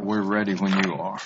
We're ready when you are.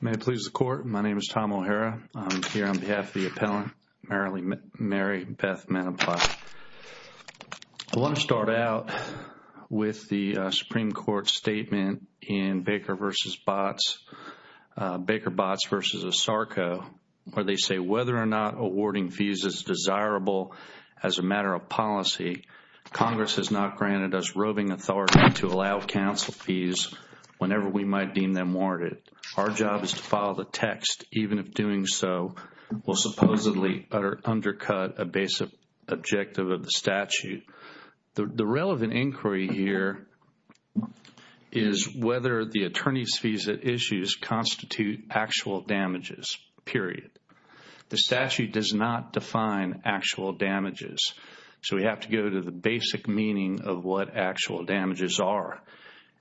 May it please the court, my name is Tom O'Hara. I'm here on behalf of the appellant, Mary Beth Mantiply. I want to start out with the Supreme Court statement in Baker v. Botts, Baker-Botts v. Osarko, where they say whether or not awarding fees is desirable as a matter of policy, Congress has not granted us roving authority to allow counsel fees whenever we might deem them warranted. Our job is to follow the text, even if doing so will supposedly undercut a basic objective of the statute. The relevant inquiry here is whether the attorney's fees at issues constitute actual damages, period. The statute does not define actual damages, so we have to go to the basic meaning of what actual damages are.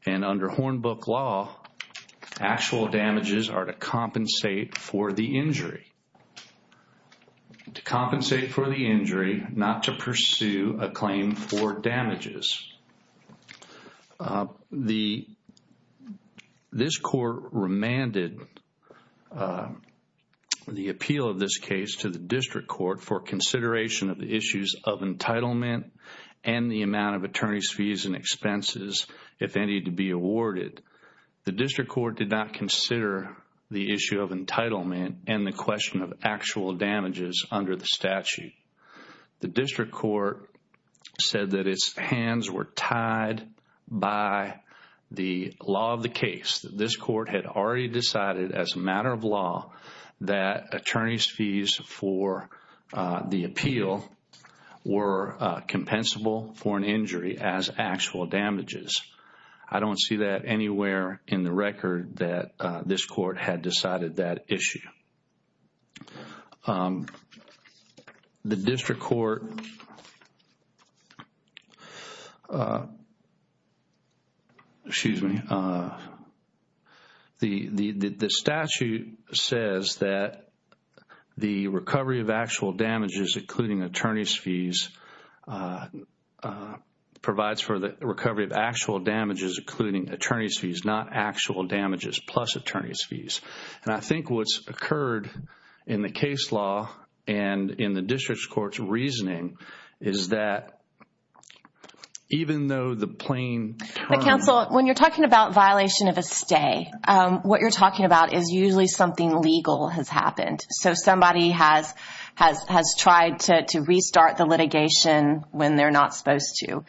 And under Hornbook law, actual damages are to compensate for the injury, to compensate for the injury, not to pursue a claim for damages. This court remanded the appeal of this case to the district court for consideration of issues of entitlement and the amount of attorney's fees and expenses, if any, to be awarded. The district court did not consider the issue of entitlement and the question of actual damages under the statute. The district court said that its hands were tied by the law of the case, that this court had already decided as a matter of law that attorney's fees for the appeal were compensable for an injury as actual damages. I don't see that anywhere in the record that this court had decided that issue. The district court, excuse me, the statute says that the recovery of actual damages including attorney's fees provides for the recovery of actual damages including attorney's fees, not actual damages plus attorney's fees. And I think what's occurred in the case law and in the district court's reasoning is that even though the plain- But counsel, when you're talking about violation of a stay, what you're talking about is usually something legal has happened. So somebody has tried to restart the litigation when they're not supposed to.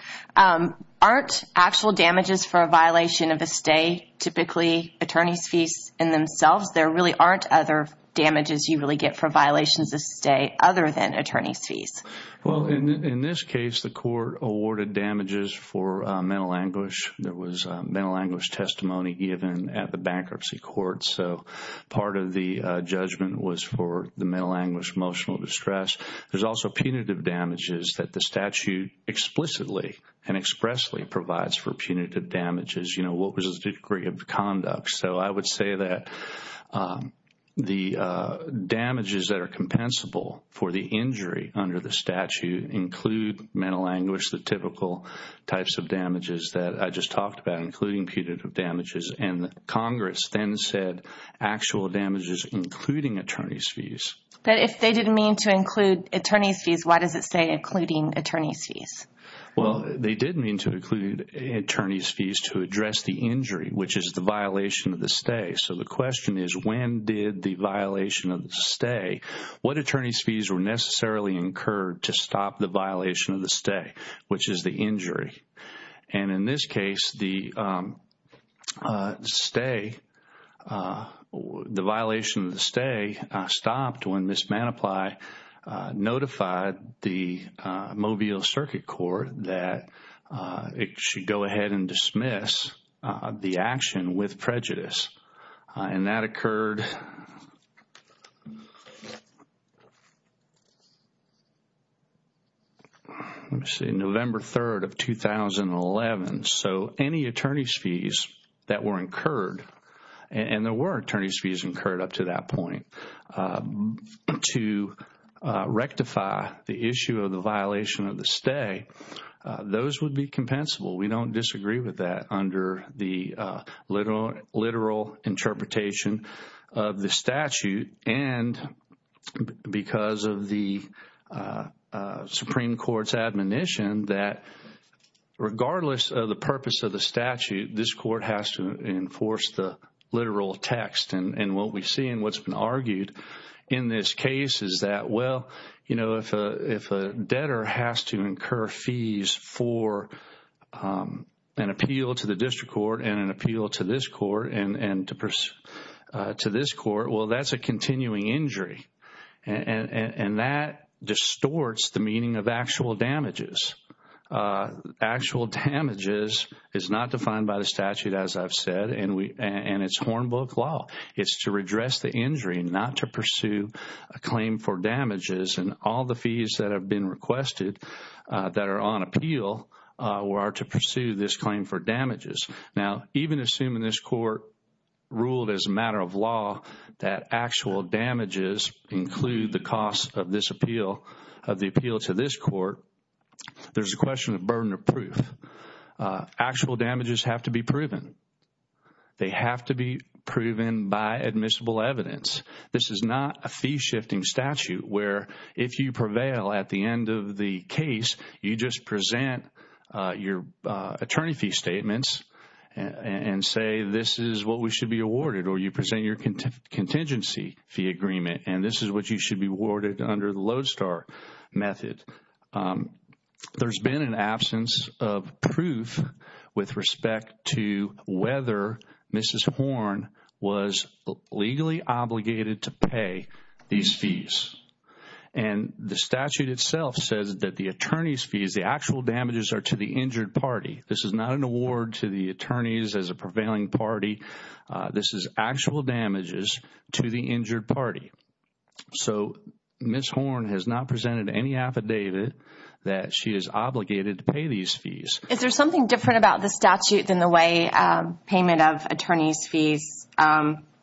Aren't actual damages for a violation of a stay typically attorney's fees in themselves? There really aren't other damages you really get for violations of stay other than attorney's fees. Well, in this case, the court awarded damages for mental anguish. There was mental anguish testimony given at the bankruptcy court. So part of the judgment was for the mental anguish, emotional distress. There's also punitive damages that the statute explicitly and expressly provides for punitive damages. You know, what was the degree of conduct? So I would say that the damages that are compensable for the injury under the statute include mental anguish, the typical types of damages that I just talked about, including punitive damages. And Congress then said actual damages including attorney's fees. But if they didn't mean to include attorney's fees, why does it say including attorney's fees? Well, they did mean to include attorney's fees to address the injury, which is the violation of the stay. So the question is when did the violation of the stay? What attorney's fees were necessarily incurred to stop the violation of the stay, which is the injury? And in this case, the stay, the violation of the stay stopped when Ms. Manaply notified the Mobile Circuit Court that it should go ahead and dismiss the action with prejudice. And that occurred, let me see, November 3rd of 2011. So any attorney's fees that were incurred, and there were attorney's fees incurred up to that point, to rectify the issue of the violation of the stay, those would be compensable. We don't disagree with that under the literal interpretation of the statute. And because of the Supreme Court's admonition that regardless of the purpose of the statute, this court has to enforce the literal text. And what we see and what's been argued in this case is that, well, you know, if a debtor has to incur fees for an appeal to the district court and an appeal to this court and to this court, well, that's a continuing injury. And that distorts the meaning of actual damages. Actual damages is not defined by the statute, as I've said, and it's Hornbook law. It's to redress the injury, not to pursue a claim for damages. And all the fees that have been requested that are on appeal are to pursue this claim for damages. Now, even assuming this court ruled as a matter of law that actual damages include the cost of this appeal, of the appeal to this court, there's a question of burden of proof. Actual damages have to be proven. They have to be proven by admissible evidence. This is not a fee-shifting statute where if you prevail at the end of the case, you just present your attorney fee statements and say this is what we should be awarded, or you present your contingency fee agreement and this is what you should be awarded under the Lodestar method. There's been an absence of proof with respect to whether Mrs. Horn was legally obligated to pay these fees. And the statute itself says that the attorney's fees, the actual damages are to the injured party. This is not an award to the attorneys as a prevailing party. This is actual damages to the injured party. So Mrs. Horn has not presented any affidavit that she is obligated to pay these fees. Is there something different about the statute than the way payment of attorney's fees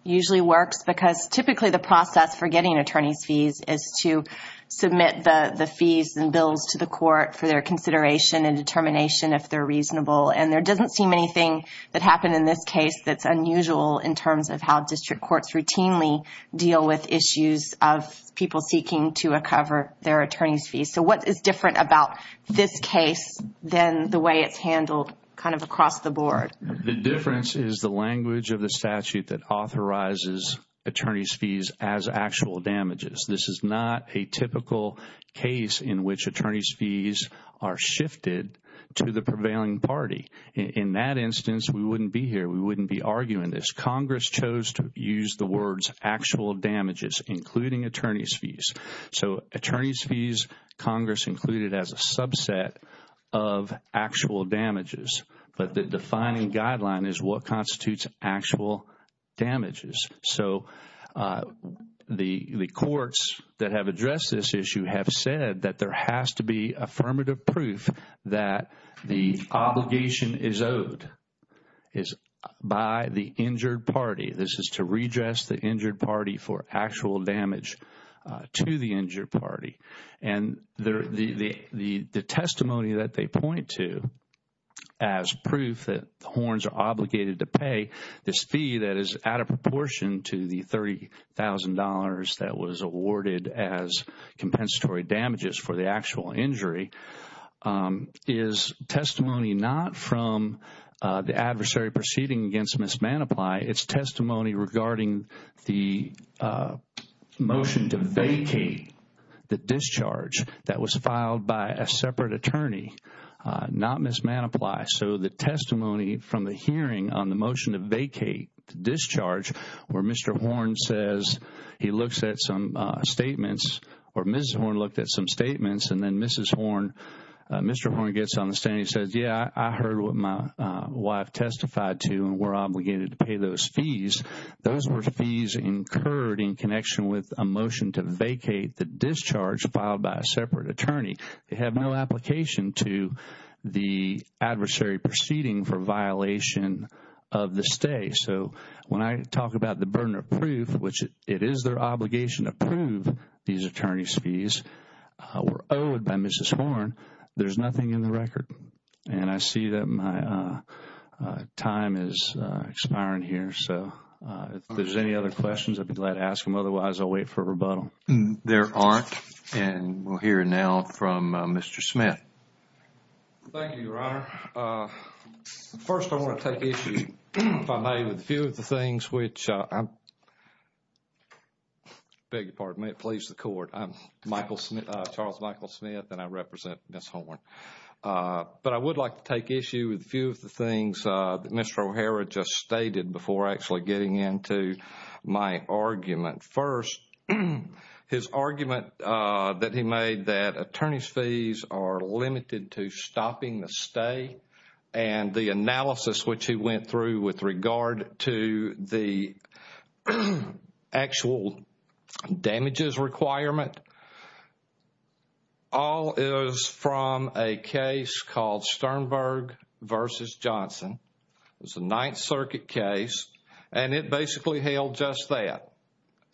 usually works? Because typically the process for getting attorney's fees is to submit the fees and bills to the court for their consideration and determination if they're reasonable. And there doesn't seem anything that happened in this case that's unusual in terms of how district courts routinely deal with issues of people seeking to recover their attorney's fees. So what is different about this case than the way it's handled kind of across the board? The difference is the language of the statute that authorizes attorney's fees as actual damages. This is not a typical case in which attorney's fees are shifted to the prevailing party. In that instance, we wouldn't be here. We wouldn't be arguing this. Congress chose to use the words actual damages, including attorney's fees. So attorney's fees, Congress included as a subset of actual damages. But the defining guideline is what constitutes actual damages. So the courts that have addressed this issue have said that there has to be affirmative proof that the obligation is owed by the injured party. This is to redress the injured party for actual damage to the injured party. And the testimony that they point to as proof that the horns are obligated to pay this fee that is out of proportion to the $30,000 that was awarded as compensatory damages for the actual injury is testimony not from the adversary proceeding against Ms. Manaply. It's testimony regarding the motion to vacate the discharge that was filed by a separate attorney, not Ms. Manaply. So the testimony from the hearing on the motion to vacate the discharge where Mr. Horn says he looks at some statements or Ms. Horn looked at some statements and then Mr. Horn gets on the stand and he says, yeah, I heard what my wife testified to and we're obligated to pay those fees. Those were fees incurred in connection with a motion to vacate the discharge filed by a separate attorney. They have no application to the adversary proceeding for violation of the stay. So when I talk about the burden of proof, which it is their obligation to prove these attorney's fees were owed by Ms. Horn, there's nothing in the record. And I see that my time is expiring here. So if there's any other questions, I'd be glad to ask them. Otherwise, I'll wait for a rebuttal. There aren't. And we'll hear now from Mr. Smith. Thank you, Your Honor. First, I want to take issue, if I may, with a few of the things which I'm I beg your pardon. May it please the Court. I'm Charles Michael Smith and I represent Ms. Horn. But I would like to take issue with a few of the things that Mr. O'Hara just stated before actually getting into my argument. First, his argument that he made that attorney's fees are limited to stopping the stay and the analysis which he went through with regard to the actual damages requirement. All is from a case called Sternberg v. Johnson. It was a Ninth Circuit case. And it basically held just that.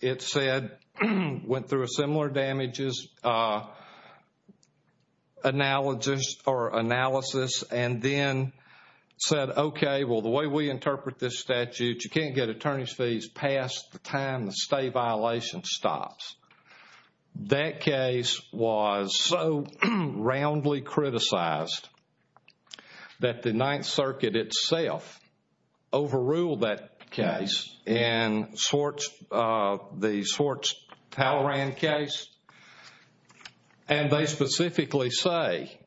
It said, went through a similar damages analysis and then said, okay, well, the way we interpret this statute, you can't get attorney's fees past the time the stay violation stops. That case was so roundly criticized that the Ninth Circuit itself overruled that case. And the Swartz-Talloran case. And they specifically say,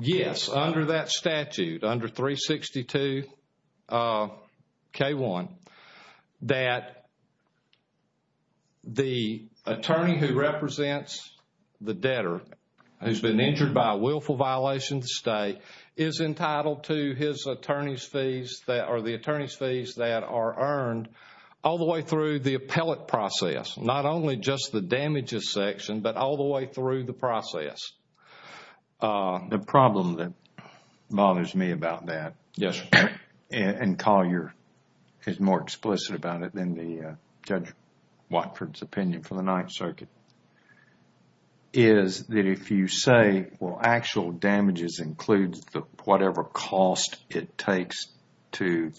yes, under that statute, under 362 K1, that the attorney who represents the debtor who's been injured by a willful violation of the stay is entitled to the attorney's fees that are earned all the way through the appellate process. Not only just the damages section, but all the way through the process. The problem that bothers me about that, and Collier is more explicit about it than Judge Watford's opinion for the Ninth Circuit, is that if you say, well, actual damages includes whatever cost it takes to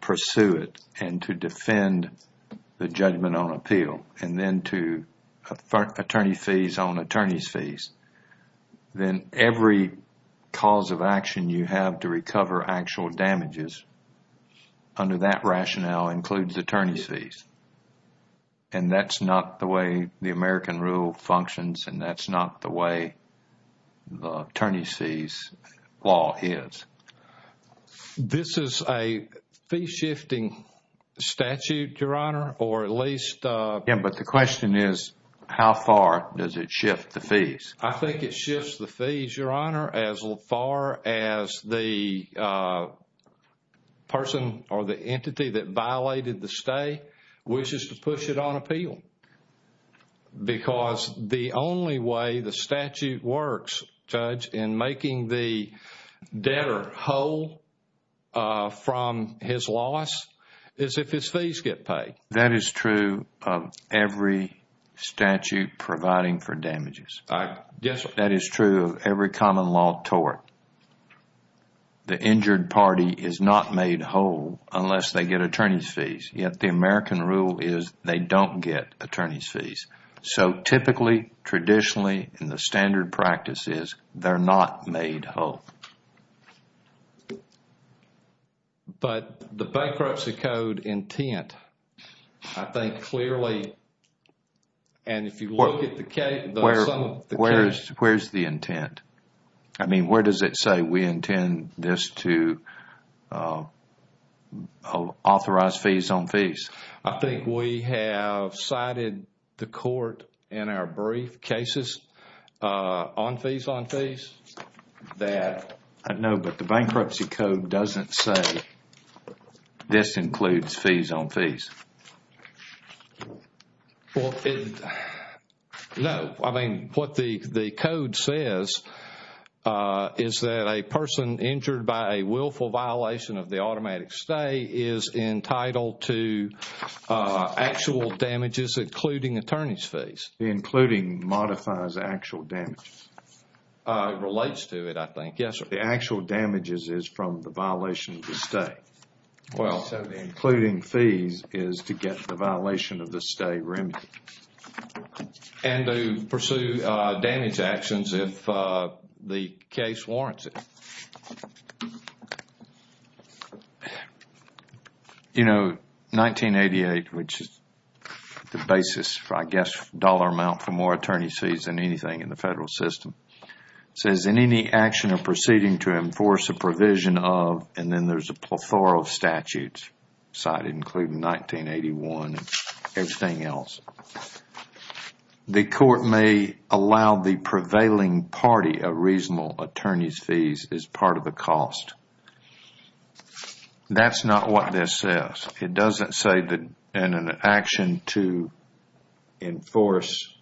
pursue it and to defend the judgment on appeal, and then to attorney fees on attorney's fees, then every cause of action you have to recover actual damages under that rationale includes attorney's fees. And that's not the way the American rule functions, and that's not the way the attorney's fees law is. This is a fee-shifting statute, Your Honor, or at least... Yeah, but the question is, how far does it shift the fees? I think it shifts the fees, Your Honor, as far as the person or the entity that violated the stay wishes to push it on appeal. Because the only way the statute works, Judge, in making the debtor whole from his loss is if his fees get paid. That is true of every statute providing for damages. Yes, sir. That is true of every common law tort. The injured party is not made whole unless they get attorney's fees, yet the American rule is they don't get attorney's fees. So typically, traditionally, in the standard practices, they're not made whole. But the bankruptcy code intent, I think clearly, and if you look at the case... Where's the intent? I mean, where does it say we intend this to authorize fees on fees? I think we have cited the court in our brief cases on fees on fees that... No, but the bankruptcy code doesn't say this includes fees on fees. Well, it... No. I mean, what the code says is that a person injured by a willful violation of the automatic stay is entitled to actual damages, including attorney's fees. Including modifies actual damages. It relates to it, I think. Yes, sir. The actual damages is from the violation of the stay. Well, including fees is to get the violation of the stay remedied. And to pursue damage actions if the case warrants it. You know, 1988, which is the basis, I guess, dollar amount for more attorney's fees than anything in the federal system, says in any action or proceeding to enforce a provision of... And then there's a plethora of statutes cited, including 1981 and everything else. The court may allow the prevailing party a reasonable attorney's fees as part of the cost. That's not what this says. It doesn't say that in an action to enforce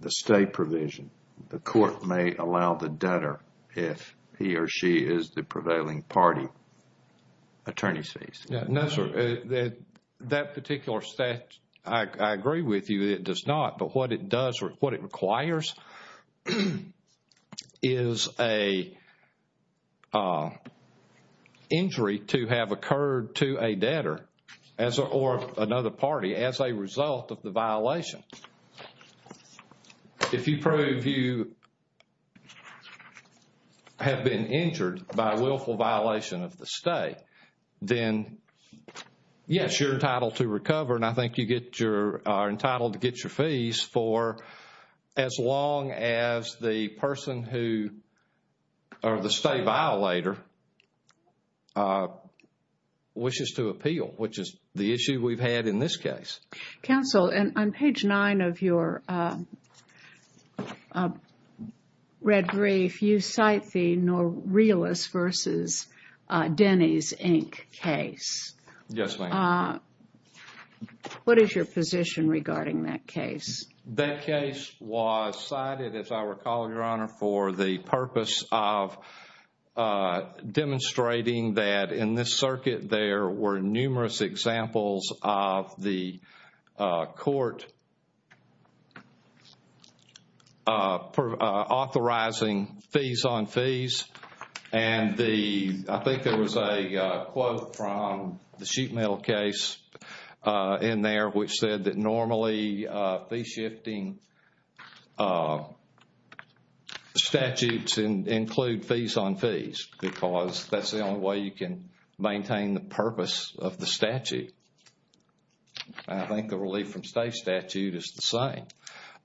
the stay provision, the court may allow the debtor, if he or she is the prevailing party, attorney's fees. No, sir. That particular statute, I agree with you, it does not. But what it does or what it requires is an injury to have occurred to a debtor or another party as a result of the violation. If you prove you have been injured by willful violation of the stay, then, yes, you're entitled to recover. And I think you get your... are entitled to get your fees for as long as the person who... or the stay violator wishes to appeal, which is the issue we've had in this case. Counsel, on page 9 of your red brief, you cite the Norelis v. Denny's, Inc. case. Yes, ma'am. What is your position regarding that case? That case was cited, as I recall, Your Honor, for the purpose of demonstrating that in this circuit there were numerous examples of the court authorizing fees on fees. And the... I think there was a quote from the sheet metal case in there which said that normally fee shifting statutes include fees on fees because that's the only way you can maintain the purpose of the statute. I think the relief from stay statute is the same.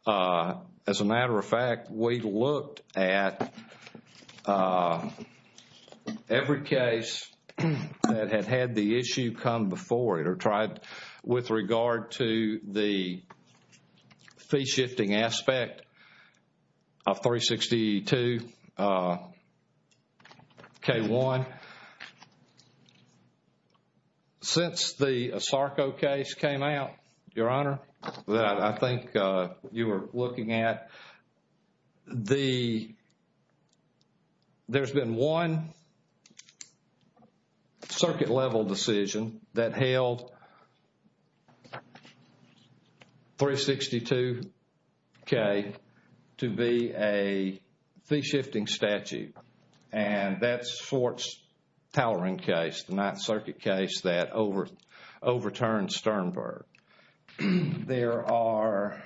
As a matter of fact, we looked at every case that had had the issue come before it or tried with regard to the fee shifting aspect of 362 K1. And since the Asarco case came out, Your Honor, that I think you were looking at, the... there's been one circuit level decision that held 362 K to be a fee shifting statute. And that's Swartz-Talloran case, the Ninth Circuit case that overturned Sternberg. There are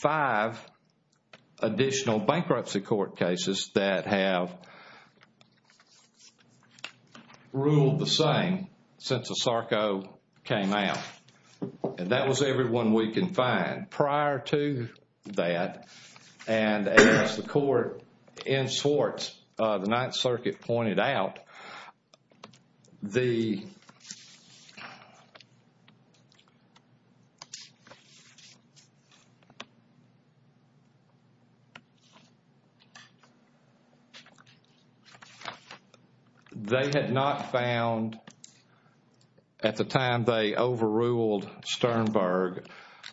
five additional bankruptcy court cases that have ruled the same since Asarco came out. And that was every one we can find. And prior to that, and as the court in Swartz, the Ninth Circuit pointed out, the... They had not found, at the time they overruled Sternberg,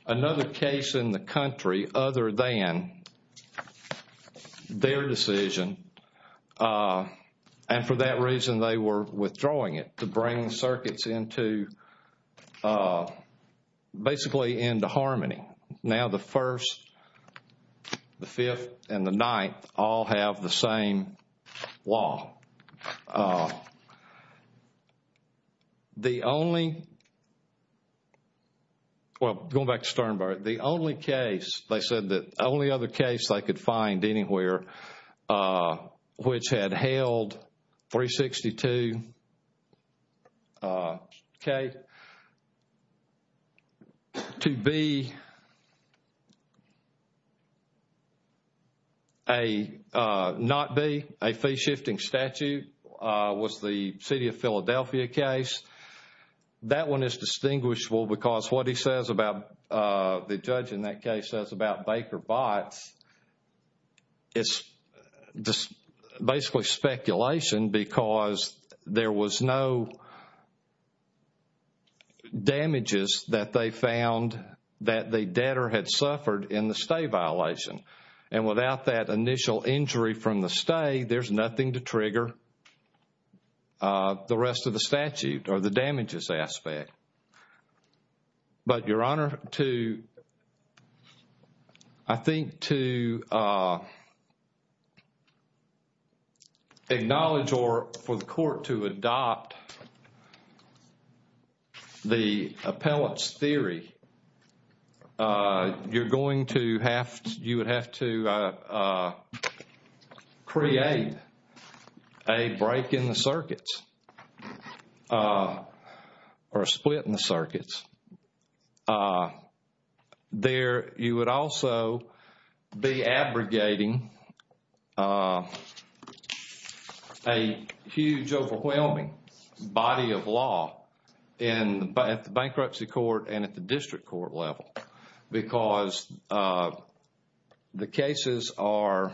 another case in the country other than their decision. And for that reason, they were withdrawing it to bring circuits into... basically into harmony. Now, the First, the Fifth, and the Ninth all have the same law. The only... well, going back to Sternberg. They said the only other case they could find anywhere which had held 362 K to be a... not be a fee shifting statute was the City of Philadelphia case. That one is distinguishable because what he says about... the judge in that case says about Baker-Botts, it's basically speculation because there was no damages that they found that the debtor had suffered in the stay violation. And without that initial injury from the stay, there's nothing to trigger the rest of the statute or the damages aspect. But, Your Honor, to... I think to acknowledge or for the court to adopt the appellate's theory, you're going to have... you would have to create a break in the circuits or a split in the circuits. There... you would also be abrogating a huge overwhelming body of law at the bankruptcy court and at the district court level because the cases are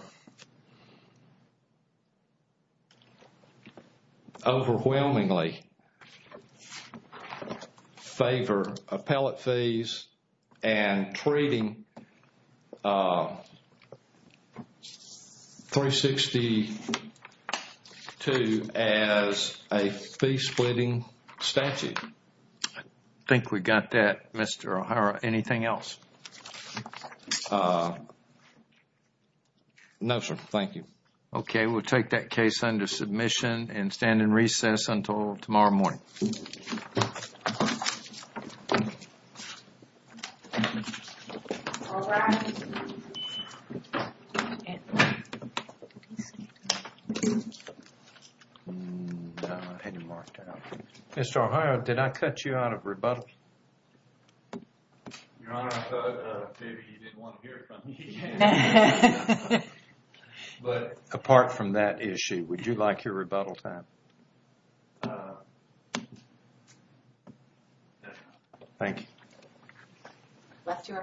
overwhelmingly in favor of appellate fees and treating 362 as a fee splitting statute. I think we got that, Mr. O'Hara. Anything else? No, sir. Thank you. Okay. We'll take that case under submission and stand in recess until tomorrow morning. Thank you. Mr. O'Hara, did I cut you out of rebuttal? Your Honor, I thought maybe you didn't want to hear it from me again. But, apart from that issue, would you like your rebuttal time? Thank you. Left you early.